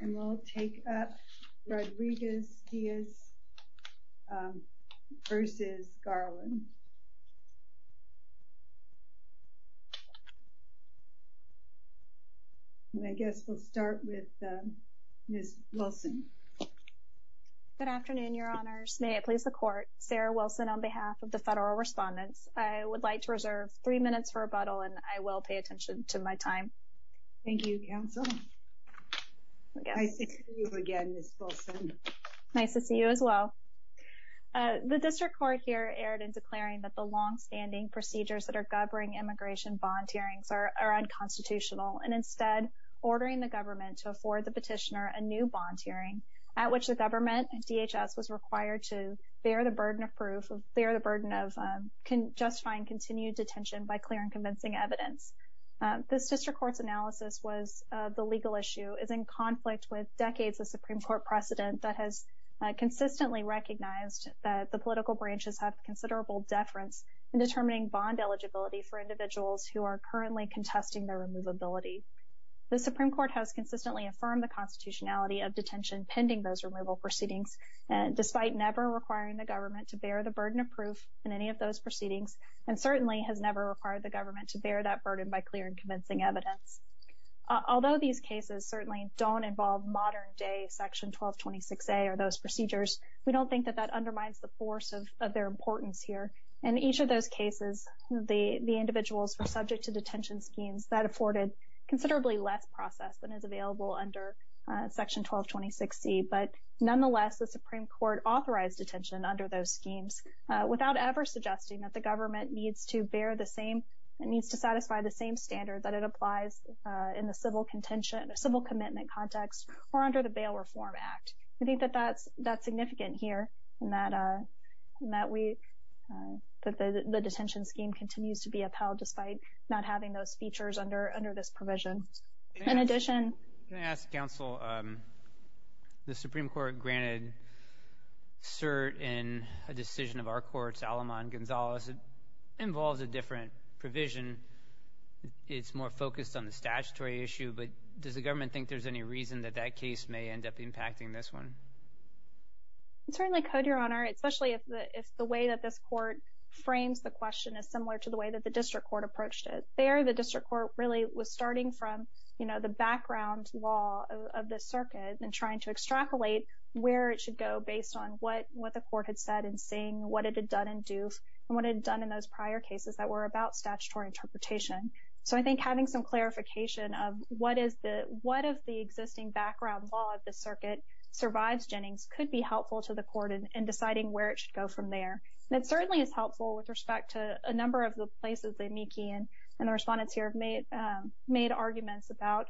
And we'll take up Rodriguez Diaz v. Garland. And I guess we'll start with Ms. Wilson. Good afternoon, Your Honors. May I please the Court? Sarah Wilson on behalf of the Federal Respondents. I would like to reserve three minutes for rebuttal and I will pay attention to my time. Thank you, Counsel. Nice to see you again, Ms. Wilson. Nice to see you as well. The District Court here erred in declaring that the long-standing procedures that are governing immigration bond hearings are unconstitutional and instead ordering the government to afford the petitioner a new bond hearing at which the government, DHS, was required to bear the burden of proof, bear the burden of justifying continued detention by clear and convincing evidence. The District Court's analysis was the legal issue is in conflict with decades of Supreme Court precedent that has consistently recognized that the political branches have considerable deference in determining bond eligibility for individuals who are currently contesting their removability. The Supreme Court has consistently affirmed the constitutionality of detention pending those removal proceedings despite never requiring the government to bear the burden of proof in any of those proceedings and certainly has never required the government to bear that burden by clear and convincing evidence. Although these cases certainly don't involve modern-day Section 1226A or those procedures, we don't think that that undermines the force of their importance here. In each of those cases, the individuals were subject to detention schemes that afforded considerably less process than is available under Section 1226C. But nonetheless, the Supreme Court authorized detention under those schemes without ever suggesting that the government needs to bear the same, it needs to satisfy the same standard that it applies in the civil contention, civil commitment context or under the Bail Reform Act. We think that that's significant here and that we, that the detention scheme continues to be upheld despite not having those features under this provision. I'm going to ask counsel, the Supreme Court granted cert in a decision of our courts, Alamond-Gonzalez. It involves a different provision. It's more focused on the statutory issue, but does the government think there's any reason that that case may end up impacting this one? I certainly could, Your Honor, especially if the way that this court frames the question is similar to the way that the district court approached it. There, the district court really was starting from, you know, the background law of the circuit and trying to extrapolate where it should go based on what the court had said in Singh, what it had done in Doof, and what it had done in those prior cases that were about statutory interpretation. So I think having some clarification of what is the, what of the existing background law of the circuit survives Jennings could be helpful to the court in deciding where it should go from there. It certainly is helpful with respect to a number of the places Amiki and the respondents here have made arguments about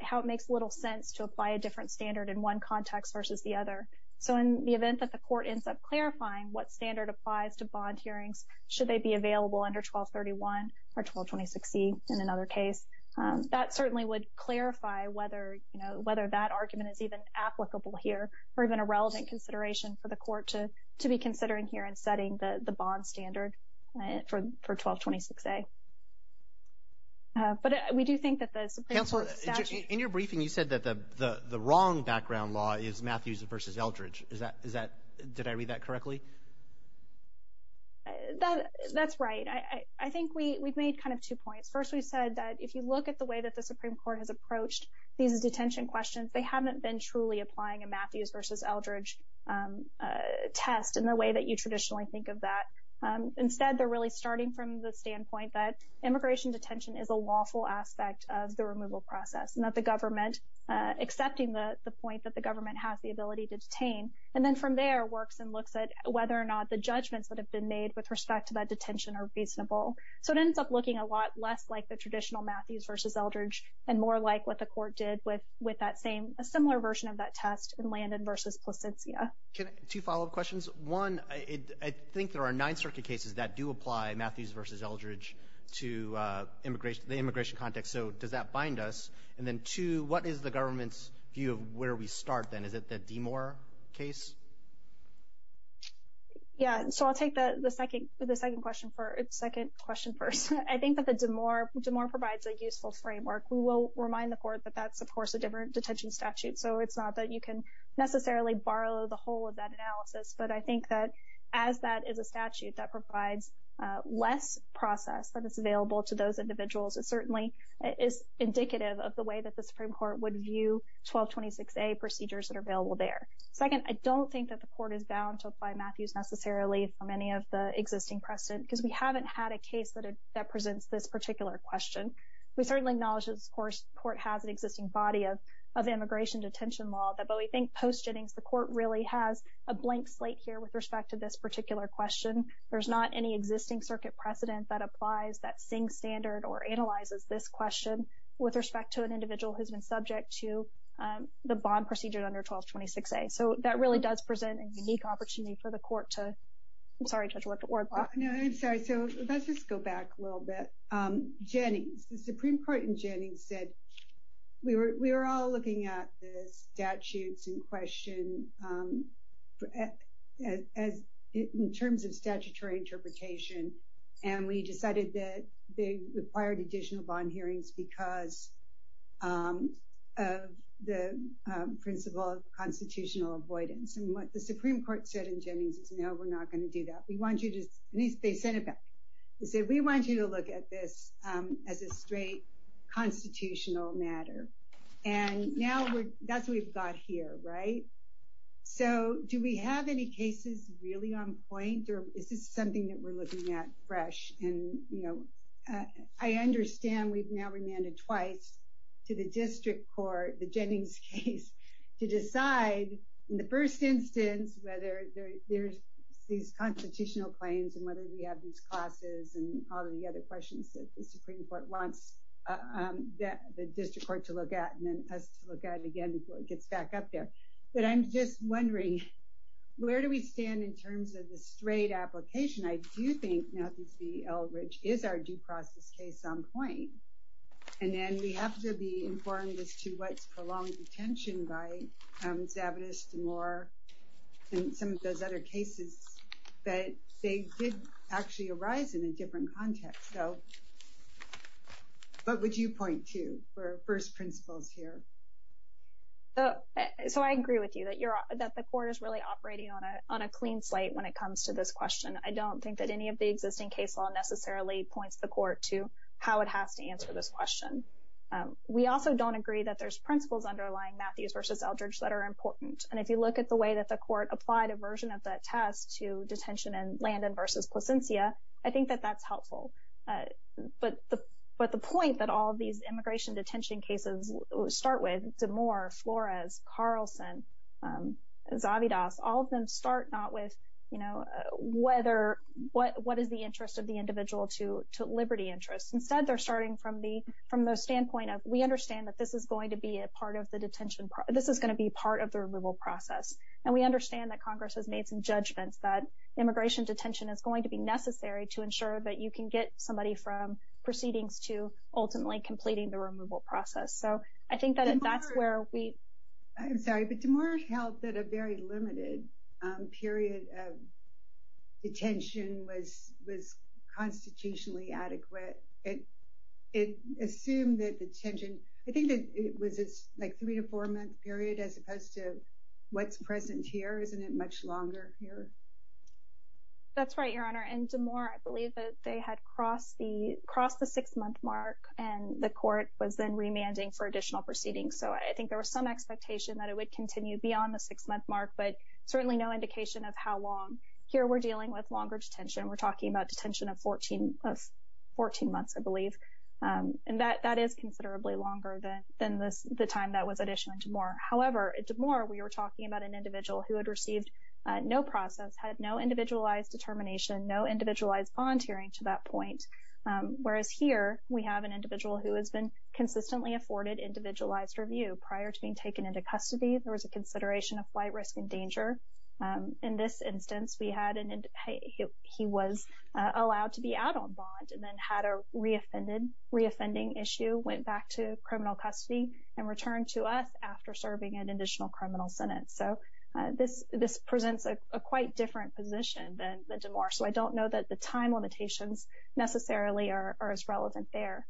how it makes little sense to apply a different standard in one context versus the other. So in the event that the court ends up clarifying what standard applies to bond hearings, should they be available under 1231 or 1226E in another case, that certainly would clarify whether, you know, whether that argument is even applicable here or even a relevant consideration for the court to be considering here in setting the bond standard for 1226A. But we do think that the Supreme Court statute. In your briefing, you said that the wrong background law is Matthews versus Eldridge. Is that, did I read that correctly? That's right. I think we've made kind of two points. First, we said that if you look at the way that the Supreme Court has approached these detention questions, they haven't been truly applying a Matthews versus Eldridge test in the way that you traditionally think of that. Instead, they're really starting from the standpoint that immigration detention is a lawful aspect of the removal process and that the government, accepting the point that the government has the ability to detain, and then from there works and looks at whether or not the judgments that have been made with respect to that detention are reasonable. So it ends up looking a lot less like the traditional Matthews versus Eldridge and more like what the court did with that same, a similar version of that test in Landon versus Placentia. Two follow-up questions. One, I think there are nine circuit cases that do apply Matthews versus Eldridge to the immigration context. So does that bind us? And then two, what is the government's view of where we start then? Is it the Demore case? Yeah, so I'll take the second question first. I think that the Demore provides a useful framework. We will remind the court that that's, of course, a different detention statute, so it's not that you can necessarily borrow the whole of that analysis. But I think that as that is a statute that provides less process that is available to those individuals, it certainly is indicative of the way that the Supreme Court would view 1226A procedures that are available there. Second, I don't think that the court is bound to apply Matthews necessarily from any of the existing precedent because we haven't had a case that presents this particular question. We certainly acknowledge, of course, the court has an existing body of immigration detention law, but we think post Jennings the court really has a blank slate here with respect to this particular question. There's not any existing circuit precedent that applies that same standard or analyzes this question with respect to an individual who's been subject to the bond procedure under 1226A. So that really does present a unique opportunity for the court to, I'm sorry to interrupt. No, I'm sorry. So let's just go back a little bit. Jennings, the Supreme Court in Jennings said we were all looking at the statutes in question in terms of statutory interpretation, and we decided that they required additional bond hearings because of the principle of constitutional avoidance. And what the Supreme Court said in Jennings is no, we're not going to do that. We want you to, at least they sent it back. They said we want you to look at this as a straight constitutional matter. And now that's what we've got here, right? So do we have any cases really on point or is this something that we're looking at fresh? And I understand we've now remanded twice to the district court, the Jennings case, to decide in the first instance whether there's these constitutional claims and whether we have these classes and all of the other questions that the Supreme Court wants the district court to look at and then us to look at again before it gets back up there. But I'm just wondering, where do we stand in terms of the straight application? I do think now this V.L. Ridge is our due process case on point. And then we have to be informed as to what's prolonged detention by Zavitas, DeMore, and some of those other cases that they did actually arise in a different context. So what would you point to for first principles here? So I agree with you that the court is really operating on a clean slate when it comes to this question. I don't think that any of the existing case law necessarily points the court to how it has to answer this question. We also don't agree that there's principles underlying Matthews v. L. Ridge that are important. And if you look at the way that the court applied a version of that test to detention in Landon v. Placencia, I think that that's helpful. But the point that all these immigration detention cases start with, DeMore, Flores, Carlson, Zavitas, all of them start not with what is the interest of the individual to liberty interests. Instead, they're starting from the standpoint of we understand that this is going to be part of the detention process. This is going to be part of the removal process. And we understand that Congress has made some judgments that immigration detention is going to be necessary to ensure that you can get somebody from proceedings to ultimately completing the removal process. So I think that that's where we. I'm sorry, but DeMore held that a very limited period of detention was constitutionally adequate. It assumed that the detention, I think it was like three to four month period as opposed to what's present here. Isn't it much longer here? That's right, Your Honor. And DeMore, I believe that they had crossed the crossed the six month mark and the court was then remanding for additional proceedings. So I think there was some expectation that it would continue beyond the six month mark, but certainly no indication of how long. Here we're dealing with longer detention. We're talking about detention of 14 of 14 months, I believe. And that that is considerably longer than than the time that was additional DeMore. However, DeMore, we were talking about an individual who had received no process, had no individualized determination, no individualized volunteering to that point. Whereas here we have an individual who has been consistently afforded individualized review prior to being taken into custody. There was a consideration of flight risk and danger. In this instance, we had and he was allowed to be out on bond and then had a reoffended reoffending issue, went back to criminal custody and returned to us after serving an additional criminal sentence. So this this presents a quite different position than the DeMore. So I don't know that the time limitations necessarily are as relevant there.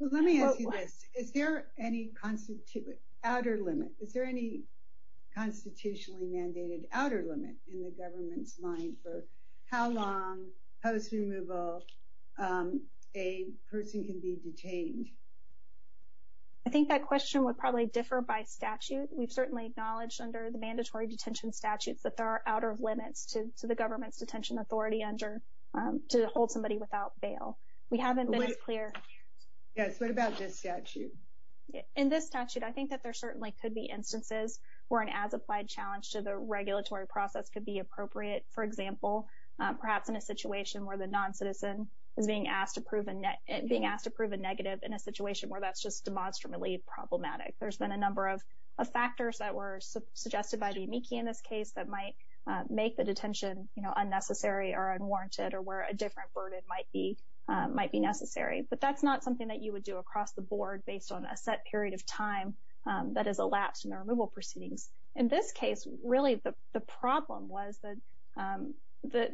Well, let me ask you this. Is there any constitute outer limit? Is there any constitutionally mandated outer limit in the government's mind for how long post removal a person can be detained? I think that question would probably differ by statute. We've certainly acknowledged under the mandatory detention statutes that there are outer limits to the government's detention authority under to hold somebody without bail. We haven't been as clear. Yes. What about this statute? In this statute, I think that there certainly could be instances where an as applied challenge to the regulatory process could be appropriate. For example, perhaps in a situation where the non-citizen is being asked to prove and being asked to prove a negative in a situation where that's just demonstrably problematic. There's been a number of factors that were suggested by the amici in this case that might make the detention unnecessary or unwarranted or where a different burden might be might be necessary. But that's not something that you would do across the board based on a set period of time that is elapsed in the removal proceedings. In this case, really, the problem was that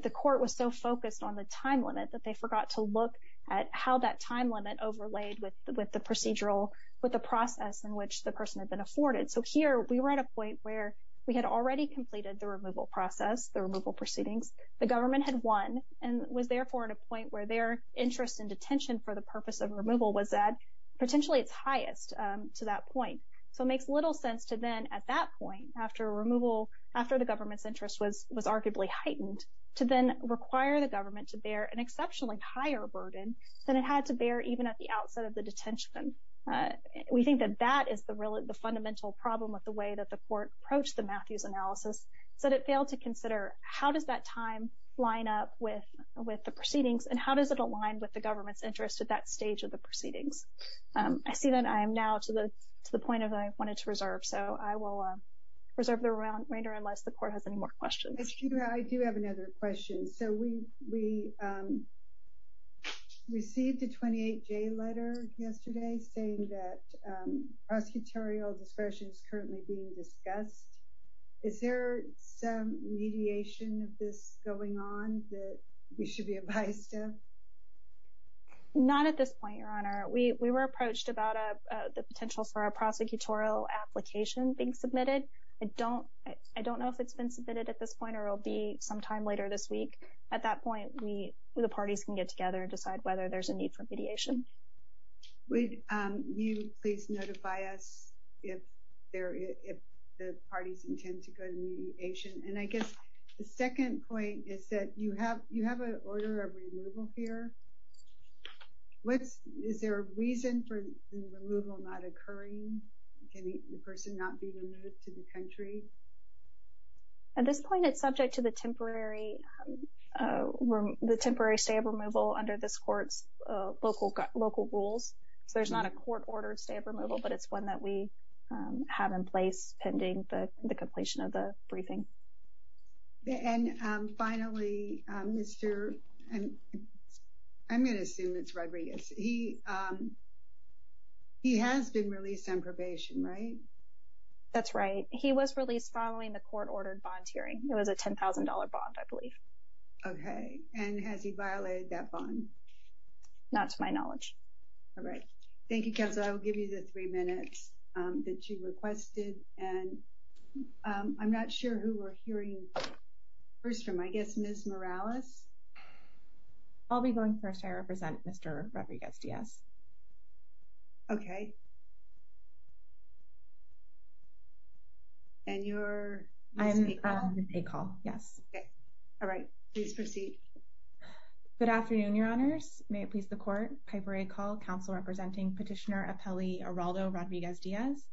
the court was so focused on the time limit that they forgot to look at how that time limit overlaid with the procedural, with the process in which the person had been afforded. So here we were at a point where we had already completed the removal process, the removal proceedings. The government had won and was therefore at a point where their interest in detention for the purpose of removal was that potentially its highest to that point. So it makes little sense to then at that point after removal, after the government's interest was was arguably heightened to then require the government to bear an exceptionally higher burden than it had to bear, even at the outset of the detention. We think that that is the really the fundamental problem with the way that the court approached the Matthews analysis. So it failed to consider how does that time line up with with the proceedings and how does it align with the government's interest at that stage of the proceedings? I see that I am now to the to the point of I wanted to reserve. So I will reserve the remainder unless the court has any more questions. I do have another question. So we we received a 28 day letter yesterday saying that prosecutorial discretion is currently being discussed. Is there some mediation of this going on that we should be advised of? Not at this point, Your Honor. We were approached about the potential for a prosecutorial application being submitted. I don't I don't know if it's been submitted at this point or it'll be sometime later this week. At that point, we the parties can get together and decide whether there's a need for mediation. Would you please notify us if there if the parties intend to go to mediation? And I guess the second point is that you have you have an order of removal here. What is there a reason for the removal not occurring? Can the person not be removed to the country? At this point, it's subject to the temporary the temporary stay of removal under this court's local local rules. So there's not a court ordered stay of removal, but it's one that we have in place pending the completion of the briefing. And finally, Mr. I'm going to assume it's Rodriguez. He he has been released on probation, right? That's right. He was released following the court ordered bond hearing. It was a ten thousand dollar bond, I believe. OK. And has he violated that bond? Not to my knowledge. All right. Thank you. Because I will give you the three minutes that you requested. And I'm not sure who we're hearing first from, I guess, Ms. Morales. I'll be going first. I represent Mr. Rodriguez. Yes. OK. And you're I'm a call. Yes. All right. Please proceed. Good afternoon, Your Honors. May it please the court. Piper, a call council representing petitioner Apelli Araldo Rodriguez Diaz.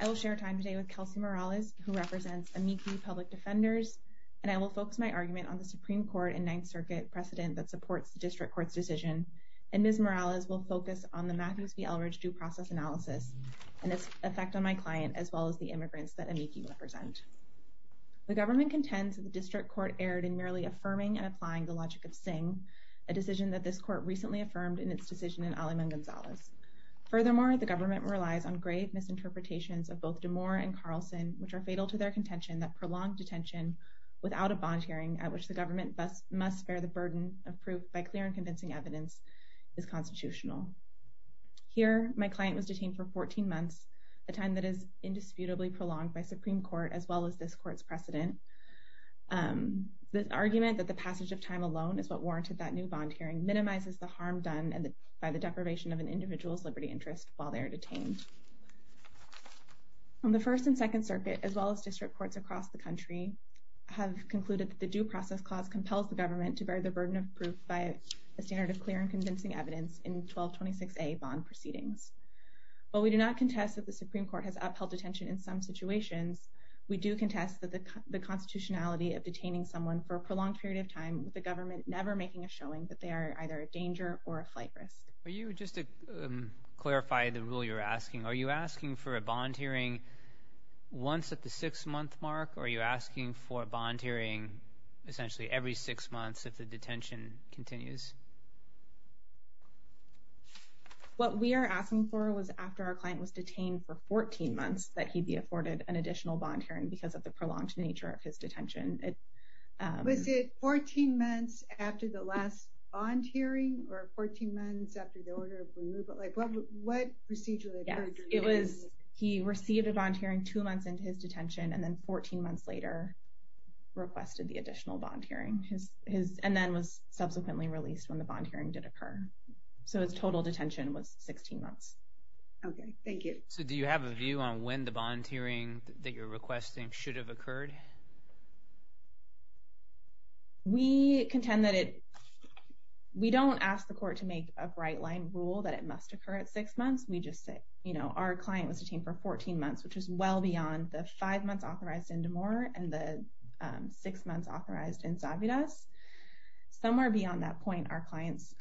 I will share time today with Kelsey Morales, who represents a meekly public defenders. And I will focus my argument on the Supreme Court and Ninth Circuit precedent that supports the district court's decision. And Ms. Morales will focus on the Matthews v. Eldridge due process analysis and its effect on my client, as well as the immigrants that I make you represent. The government contends that the district court erred in merely affirming and applying the logic of Singh, a decision that this court recently affirmed in its decision in Alamo Gonzalez. Furthermore, the government relies on grave misinterpretations of both DeMora and Carlson, which are fatal to their contention that prolonged detention without a bond hearing at which the government must bear the burden of proof by clear and convincing evidence is constitutional. Here, my client was detained for 14 months, a time that is indisputably prolonged by Supreme Court, as well as this court's precedent. The argument that the passage of time alone is what warranted that new bond hearing minimizes the harm done by the deprivation of an individual's liberty interest while they are detained. The First and Second Circuit, as well as district courts across the country, have concluded that the due process clause compels the government to bear the burden of proof by a standard of clear and convincing evidence in 1226A bond proceedings. While we do not contest that the Supreme Court has upheld detention in some situations, we do contest the constitutionality of detaining someone for a prolonged period of time with the government never making a showing that they are either a danger or a flight risk. Are you, just to clarify the rule you're asking, are you asking for a bond hearing once at the six-month mark, or are you asking for a bond hearing essentially every six months if the detention continues? What we are asking for was after our client was detained for 14 months, that he be afforded an additional bond hearing because of the prolonged nature of his detention. Was it 14 months after the last bond hearing, or 14 months after the order of removal? What procedure? Yes, it was he received a bond hearing two months into his detention and then 14 months later requested the additional bond hearing, and then was subsequently released when the bond hearing did occur. So his total detention was 16 months. Okay, thank you. So do you have a view on when the bond hearing that you're requesting should have occurred? We contend that it, we don't ask the court to make a bright-line rule that it must occur at six months. We just say, you know, our client was detained for 14 months, which is well beyond the five months authorized in Damore and the six months authorized in Zavidas. Somewhere beyond that point, our client's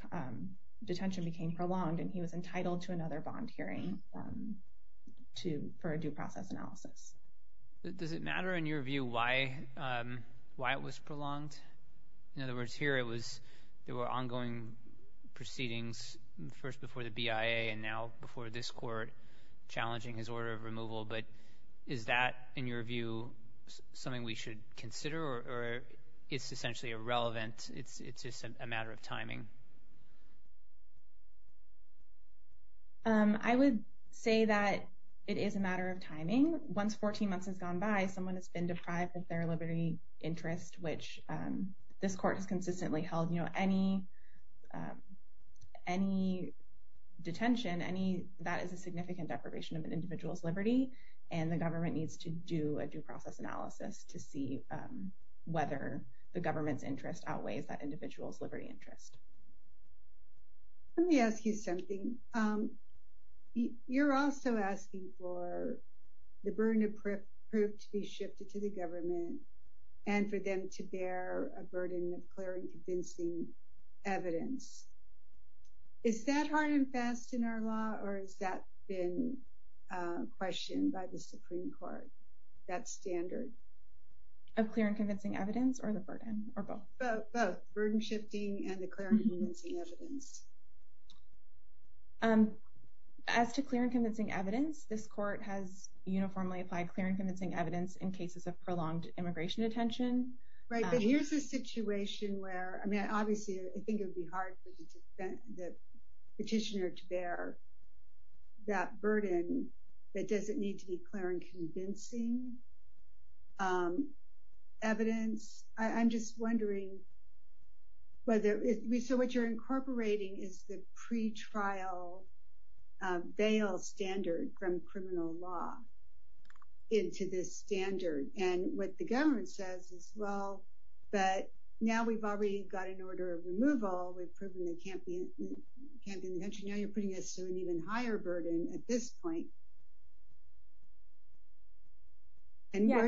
detention became prolonged, and he was entitled to another bond hearing for a due process analysis. Does it matter in your view why it was prolonged? In other words, here it was, there were ongoing proceedings, first before the BIA and now before this court, challenging his order of removal. But is that, in your view, something we should consider, or it's essentially irrelevant, it's just a matter of timing? I would say that it is a matter of timing. Once 14 months has gone by, someone has been deprived of their liberty interest, which this court has consistently held. You know, any detention, any, that is a significant deprivation of an individual's liberty, and the government needs to do a due process analysis to see whether the government's interest outweighs that individual's liberty interest. Let me ask you something. You're also asking for the burden of proof to be shifted to the government and for them to bear a burden of clear and convincing evidence. Is that hard and fast in our law, or has that been questioned by the Supreme Court, that standard? Of clear and convincing evidence, or the burden, or both? Both, burden shifting and the clear and convincing evidence. As to clear and convincing evidence, this court has uniformly applied clear and convincing evidence in cases of prolonged immigration detention. Right, but here's a situation where, I mean, obviously I think it would be hard for the petitioner to bear that burden, but does it need to be clear and convincing evidence? I'm just wondering whether, so what you're incorporating is the pretrial bail standard from criminal law into this standard, and what the government says is, well, but now we've already got an order of removal, we've proven they can't be in detention, now you're putting us to an even higher burden at this point. Yes, I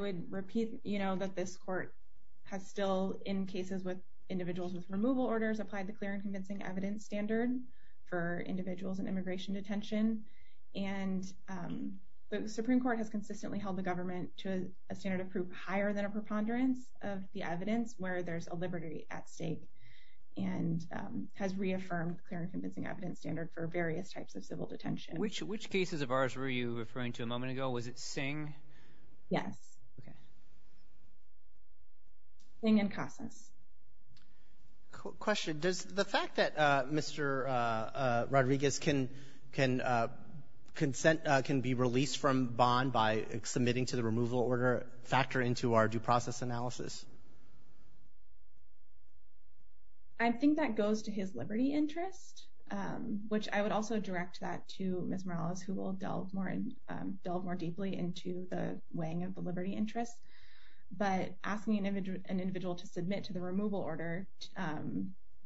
would repeat that this court has still, in cases with individuals with removal orders, applied the clear and convincing evidence standard for individuals in immigration detention, and the Supreme Court has consistently held the government to a standard of proof higher than a preponderance of the evidence, where there's a liberty at stake, and has reaffirmed the clear and convincing evidence standard for various types of civil detention. Which cases of ours were you referring to a moment ago? Was it Singh? Yes. Singh and Casas. Question. Does the fact that Mr. Rodriguez can be released from bond by submitting to the removal order factor into our due process analysis? I think that goes to his liberty interest, which I would also direct that to Ms. Morales, who will delve more deeply into the weighing of the liberty interest. But asking an individual to submit to the removal order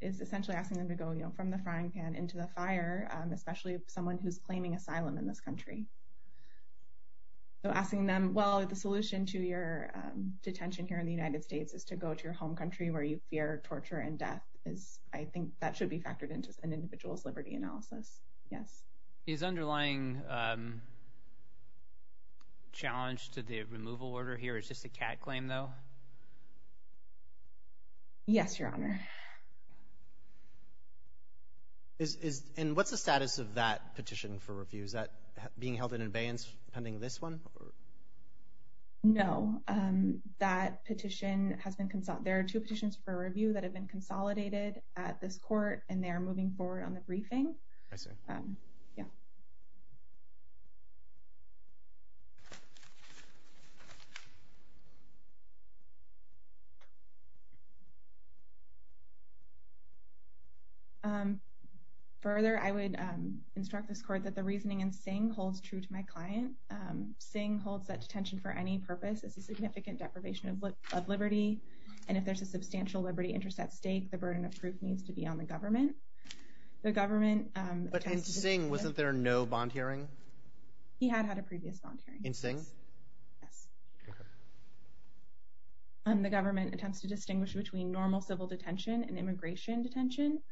is essentially asking them to go from the frying pan into the fire, especially someone who's claiming asylum in this country. So asking them, well, the solution to your detention here in the United States is to go to your home country where you fear torture and death, I think that should be factored into an individual's liberty analysis. Yes. Is underlying challenge to the removal order here is just a CAT claim, though? Yes, Your Honor. And what's the status of that petition for review? Is that being held in abeyance pending this one? No. That petition has been – there are two petitions for review that have been consolidated at this court, and they are moving forward on the briefing. I see. Yeah. Further, I would instruct this court that the reasoning in Singh holds true to my client. Singh holds that detention for any purpose is a significant deprivation of liberty, and if there's a substantial liberty interest at stake, the burden of proof needs to be on the government. The government – But in Singh, wasn't there no bond hearing? He had had a previous bond hearing. In Singh? Yes. Okay. The government attempts to distinguish between normal civil detention and immigration detention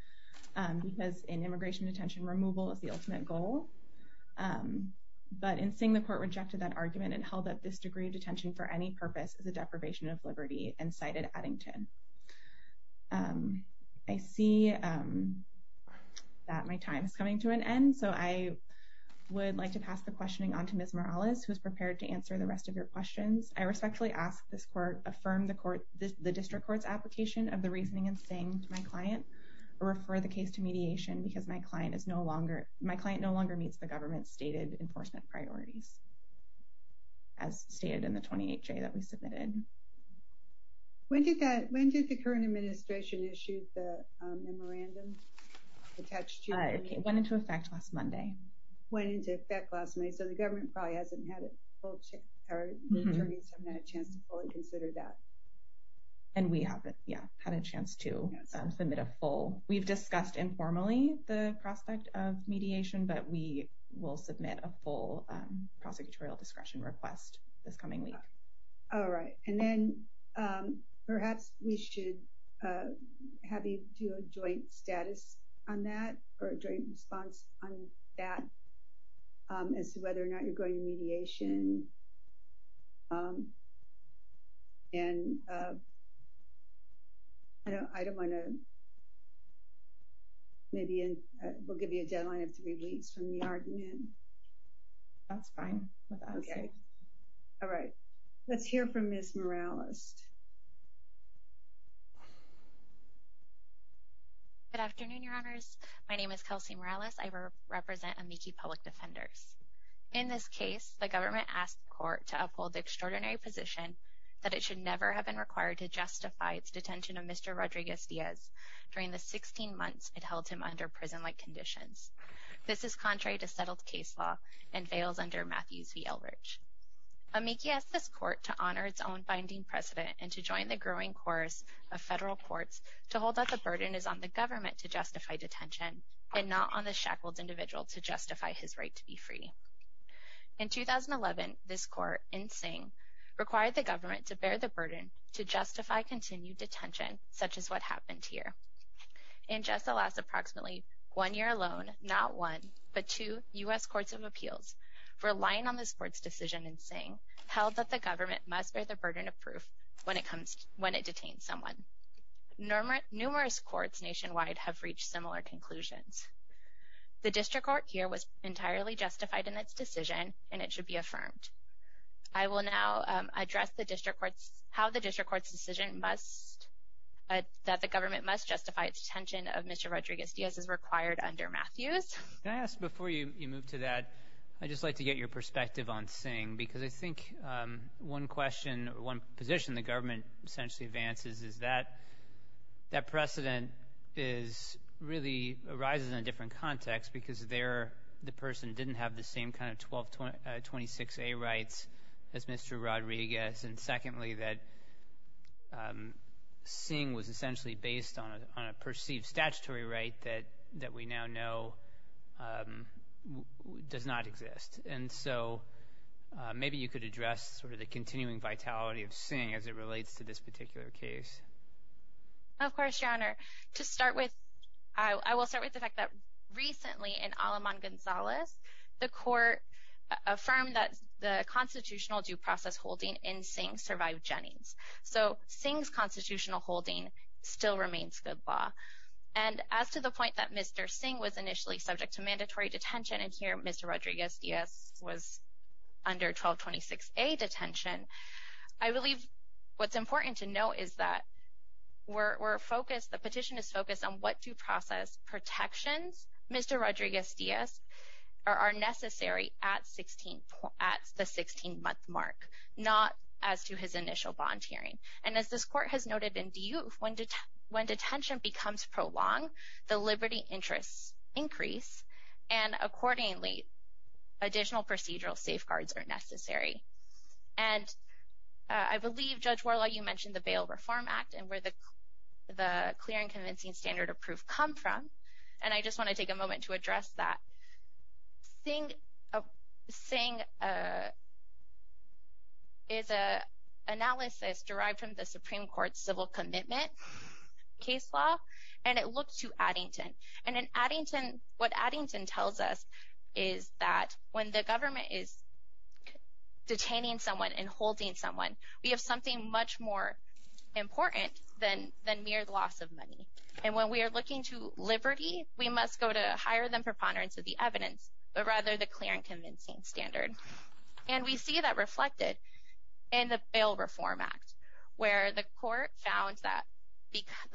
because in immigration detention, removal is the ultimate goal. But in Singh, the court rejected that argument and held that this degree of detention for any purpose is a deprivation of liberty and cited Addington. I see that my time is coming to an end, so I would like to pass the questioning on to Ms. Morales, who is prepared to answer the rest of your questions. I respectfully ask this court affirm the district court's application of the reasoning in Singh to my client or refer the case to mediation because my client is no longer – my client no longer meets the government's stated enforcement priorities, as stated in the 28-J that we submitted. When did that – when did the current administration issue the memorandum attached to – It went into effect last Monday. Went into effect last Monday, so the government probably hasn't had a full – or the attorneys haven't had a chance to fully consider that. And we haven't, yeah, had a chance to submit a full – we've discussed informally the prospect of mediation, but we will submit a full prosecutorial discretion request this coming week. All right, and then perhaps we should have you do a joint status on that or a joint response on that as to whether or not you're going to mediation. And I don't want to – maybe we'll give you a deadline of three weeks from the argument. That's fine with us. Okay, all right. Let's hear from Ms. Morales. Good afternoon, Your Honors. My name is Kelsey Morales. I represent Amici Public Defenders. In this case, the government asked the court to uphold the extraordinary position that it should never have been required to justify its detention of Mr. Rodriguez-Diaz during the 16 months it held him under prison-like conditions. This is contrary to settled case law and veils under Matthews v. Elbridge. Amici asked this court to honor its own binding precedent and to join the growing chorus of federal courts to hold that the burden is on the government to justify detention and not on the shackled individual to justify his right to be free. In 2011, this court in Sing required the government to bear the burden to justify continued detention such as what happened here. In just the last approximately one year alone, not one but two U.S. courts of appeals were relying on this court's decision in Sing, held that the government must bear the burden of proof when it detains someone. Numerous courts nationwide have reached similar conclusions. The district court here was entirely justified in its decision, and it should be affirmed. I will now address how the district court's decision must that the government must justify its detention of Mr. Rodriguez-Diaz is required under Matthews. Can I ask before you move to that, I'd just like to get your perspective on Sing because I think one question, one position the government essentially advances is that that precedent really arises in a different context because there the person didn't have the same kind of 1226A rights as Mr. Rodriguez. And secondly, that Sing was essentially based on a perceived statutory right that we now know does not exist. And so maybe you could address sort of the continuing vitality of Sing as it relates to this particular case. Of course, Your Honor. To start with, I will start with the fact that recently in Aleman Gonzalez, the court affirmed that the constitutional due process holding in Sing survived Jennings. So Sing's constitutional holding still remains good law. And as to the point that Mr. Sing was initially subject to mandatory detention and here Mr. Rodriguez-Diaz was under 1226A detention, I believe what's important to know is that we're focused, the petition is focused on what due process protections Mr. Rodriguez-Diaz are necessary at the 16-month mark, not as to his initial bond hearing. And as this court has noted in D.U., when detention becomes prolonged, the liberty interests increase, and accordingly, additional procedural safeguards are necessary. And I believe, Judge Warlaw, you mentioned the Bail Reform Act and where the clear and convincing standard of proof come from, and I just want to take a moment to address that. Sing is an analysis derived from the Supreme Court's civil commitment case law, and it looks to Addington. And what Addington tells us is that when the government is detaining someone and holding someone, we have something much more important than mere loss of money. And when we are looking to liberty, we must go to higher than preponderance of the evidence, but rather the clear and convincing standard. And we see that reflected in the Bail Reform Act, where the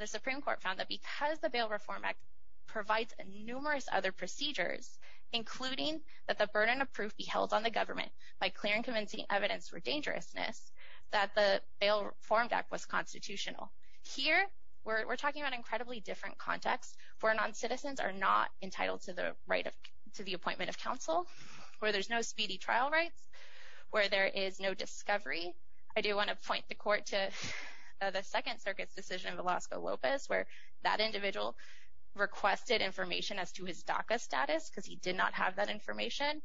Supreme Court found that because the Bail Reform Act provides numerous other procedures, including that the burden of proof be held on the government by clear and convincing evidence for dangerousness, that the Bail Reform Act was constitutional. Here, we're talking about an incredibly different context where noncitizens are not entitled to the appointment of counsel, where there's no speedy trial rights, where there is no discovery. I do want to point the court to the Second Circuit's decision of Velasco Lopez, where that individual requested information as to his DACA status because he did not have that information,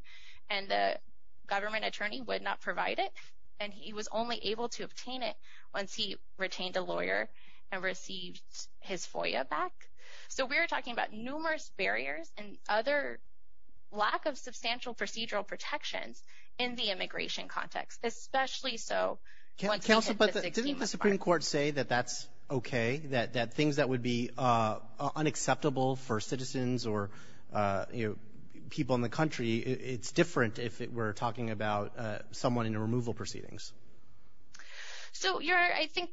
and the government attorney would not provide it, and he was only able to obtain it once he retained a lawyer and received his FOIA back. So we are talking about numerous barriers and other lack of substantial procedural protections in the immigration context, especially so once we hit the 16th of March. Council, but didn't the Supreme Court say that that's okay, that things that would be unacceptable for citizens or people in the country, it's different if we're talking about someone in a removal proceedings? So I think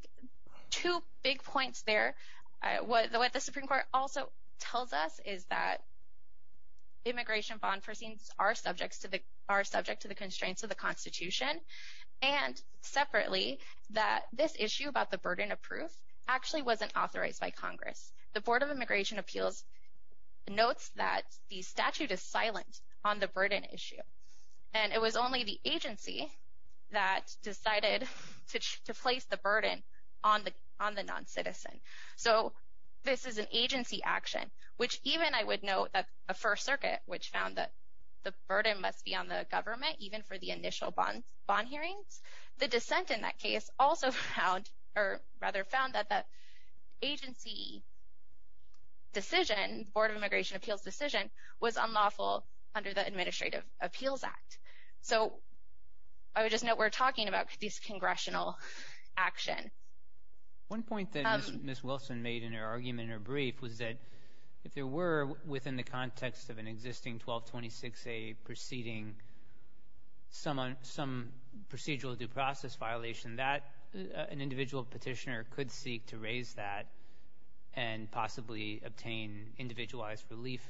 two big points there. What the Supreme Court also tells us is that immigration bond proceedings are subject to the constraints of the Constitution, and separately that this issue about the burden of proof actually wasn't authorized by Congress. The Board of Immigration Appeals notes that the statute is silent on the burden issue, and it was only the agency that decided to place the burden on the noncitizen. So this is an agency action, which even I would note that the First Circuit, which found that the burden must be on the government even for the initial bond hearings, the dissent in that case also found, or rather found, that the agency decision, the Board of Immigration Appeals decision, was unlawful under the Administrative Appeals Act. So I would just note we're talking about these congressional actions. One point that Ms. Wilson made in her argument in her brief was that if there were, within the context of an existing 1226A proceeding, some procedural due process violation, that an individual petitioner could seek to raise that and possibly obtain individualized relief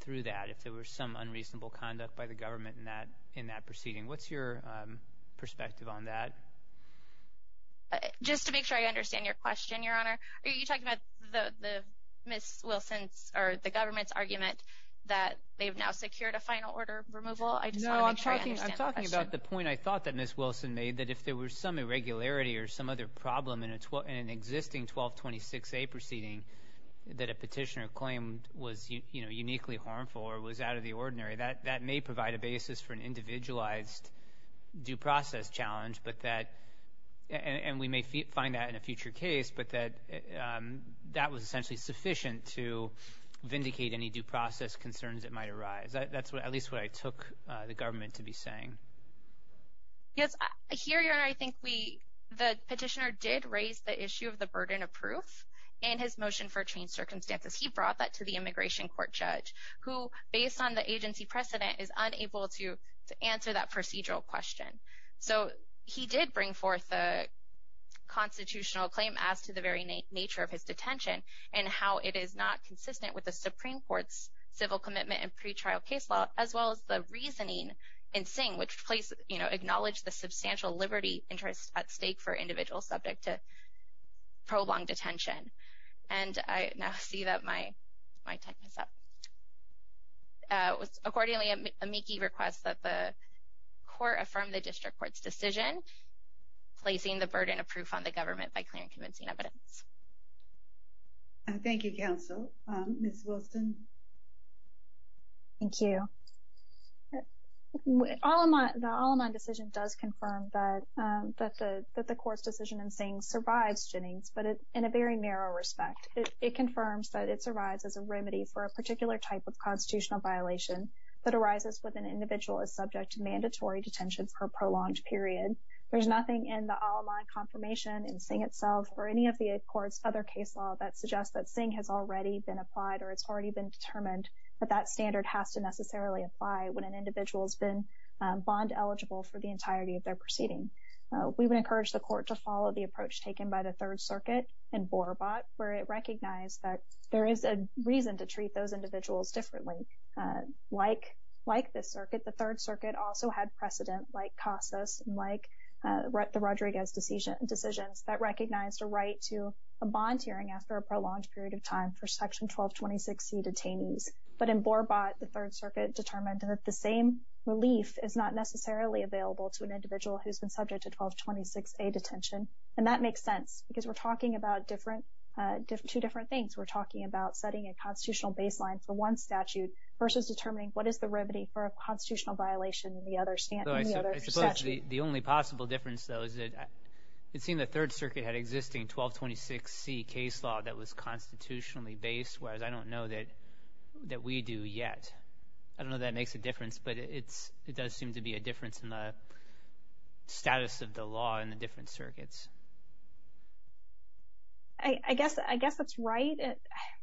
through that if there were some unreasonable conduct by the government in that proceeding. What's your perspective on that? Just to make sure I understand your question, Your Honor, are you talking about Ms. Wilson's or the government's argument that they've now secured a final order removal? I just want to make sure I understand the question. No, I'm talking about the point I thought that Ms. Wilson made, that if there were some irregularity or some other problem in an existing 1226A proceeding that a petitioner claimed was uniquely harmful or was out of the ordinary, that may provide a basis for an individualized due process challenge, and we may find that in a future case, but that that was essentially sufficient to vindicate any due process concerns that might arise. That's at least what I took the government to be saying. Yes, here, Your Honor, I think the petitioner did raise the issue of the burden of proof in his motion for changed circumstances. He brought that to the immigration court judge, who, based on the agency precedent, is unable to answer that procedural question. So he did bring forth a constitutional claim as to the very nature of his detention and how it is not consistent with the Supreme Court's civil commitment and pretrial case law, as well as the reasoning in Singh, which acknowledged the substantial liberty interest at stake for individuals subject to prolonged detention. And I now see that my time is up. Accordingly, amici requests that the court affirm the district court's decision, placing the burden of proof on the government by clear and convincing evidence. Thank you, counsel. Ms. Wilson? Thank you. The Aleman decision does confirm that the court's decision in Singh survives Jennings, but in a very narrow respect. It confirms that it survives as a remedy for a particular type of constitutional violation that arises when an individual is subject to mandatory detention for a prolonged period. There's nothing in the Aleman confirmation in Singh itself or any of the court's other case law that suggests that Singh has already been applied or it's already been determined that that standard has to necessarily apply when an individual has been bond eligible for the entirety of their proceeding. We would encourage the court to follow the approach taken by the Third Circuit in Borabat, where it recognized that there is a reason to treat those individuals differently. Like this circuit, the Third Circuit also had precedent like Casas and like the Rodriguez decisions that recognized a right to a bond hearing after a prolonged period of time for Section 1226C detainees. But in Borabat, the Third Circuit determined that the same relief is not necessarily available to an individual who's been subject to 1226A detention. And that makes sense because we're talking about two different things. We're talking about setting a constitutional baseline for one statute versus determining what is the remedy for a constitutional violation in the other statute. I suppose the only possible difference, though, is that it seemed the Third Circuit had existing 1226C case law that was constitutionally based, whereas I don't know that we do yet. I don't know if that makes a difference, but it does seem to be a difference in the status of the law in the different circuits. I guess that's right.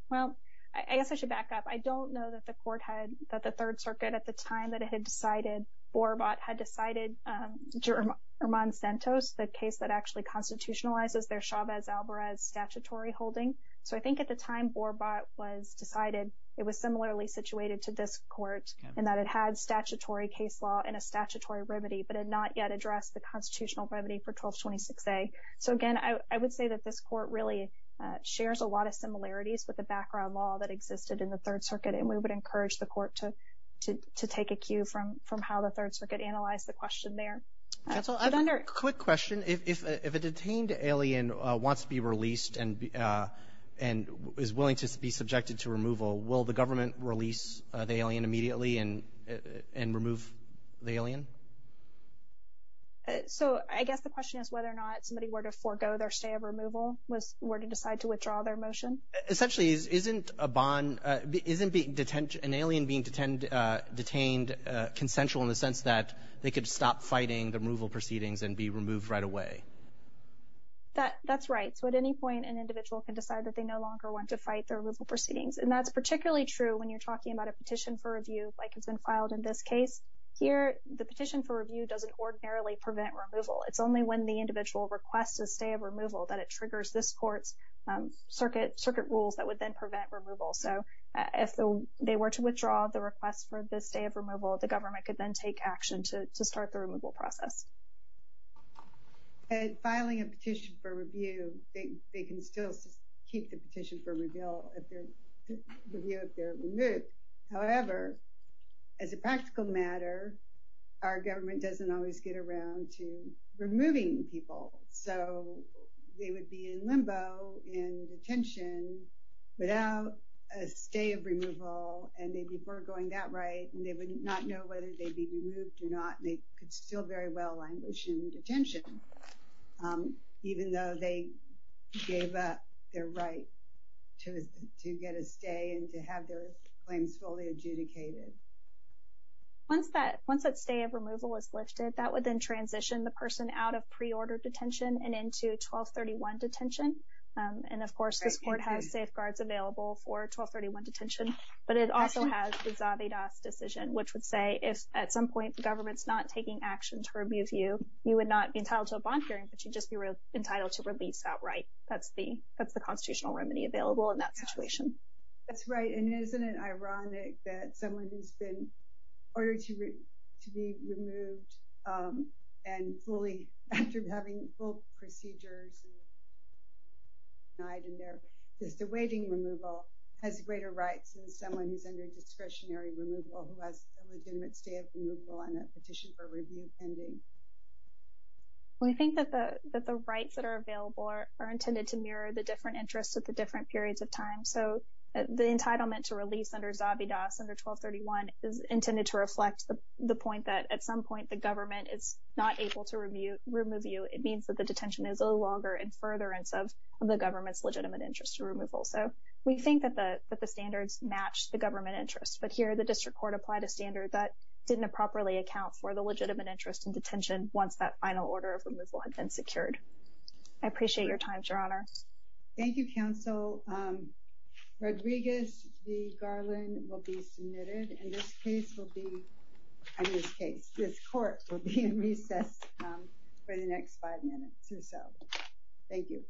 Well, I guess I should back up. I don't know that the court had, that the Third Circuit at the time that it had decided, Borabat had decided German Santos, the case that actually constitutionalizes their Chavez-Alvarez statutory holding. So I think at the time Borabat was decided, it was similarly situated to this court in that it had statutory case law and a statutory remedy but had not yet addressed the constitutional remedy for 1226A. So, again, I would say that this court really shares a lot of similarities with the background law that existed in the Third Circuit, and we would encourage the court to take a cue from how the Third Circuit analyzed the question there. Counsel, I have a quick question. If a detained alien wants to be released and is willing to be subjected to removal, will the government release the alien immediately and remove the alien? So I guess the question is whether or not somebody were to forego their stay of removal, were to decide to withdraw their motion. Essentially, isn't a bond, isn't an alien being detained consensual in the sense that they could stop fighting the removal proceedings and be removed right away? That's right. So at any point, an individual can decide that they no longer want to fight their removal proceedings. And that's particularly true when you're talking about a petition for review like has been filed in this case. Here, the petition for review doesn't ordinarily prevent removal. It's only when the individual requests a stay of removal that it triggers this court's circuit rules that would then prevent removal. So if they were to withdraw the request for this stay of removal, the government could then take action to start the removal process. And filing a petition for review, they can still keep the petition for review if they're removed. However, as a practical matter, our government doesn't always get around to removing people. So they would be in limbo, in detention, without a stay of removal, and they were going that right, and they would not know whether they'd be removed or not, and they could still very well languish in detention, even though they gave up their right to get a stay and to have their claims fully adjudicated. Once that stay of removal is lifted, that would then transition the person out of pre-order detention and into 1231 detention. And, of course, this court has safeguards available for 1231 detention, but it also has the Zavedas decision, which would say, if at some point the government's not taking action to remove you, you would not be entitled to a bond hearing, but you'd just be entitled to release outright. That's the constitutional remedy available in that situation. That's right. And isn't it ironic that someone who's been ordered to be removed and fully, after having both procedures denied and they're just awaiting removal, has greater rights than someone who's under discretionary removal, who has a legitimate stay of removal and a petition for review pending? We think that the rights that are available are intended to mirror the different interests at the different periods of time. So the entitlement to release under Zavedas under 1231 is intended to reflect the point that, at some point, the government is not able to remove you. It means that the detention is no longer in furtherance of the government's legitimate interest to removal. So we think that the standards match the government interest, but here the district court applied a standard that didn't properly account for the legitimate interest in detention once that final order of removal had been secured. I appreciate your time, Your Honor. Thank you, Counsel. Rodriguez v. Garland will be submitted, and this case will be, and this case, this court will be in recess for the next five minutes or so. Thank you.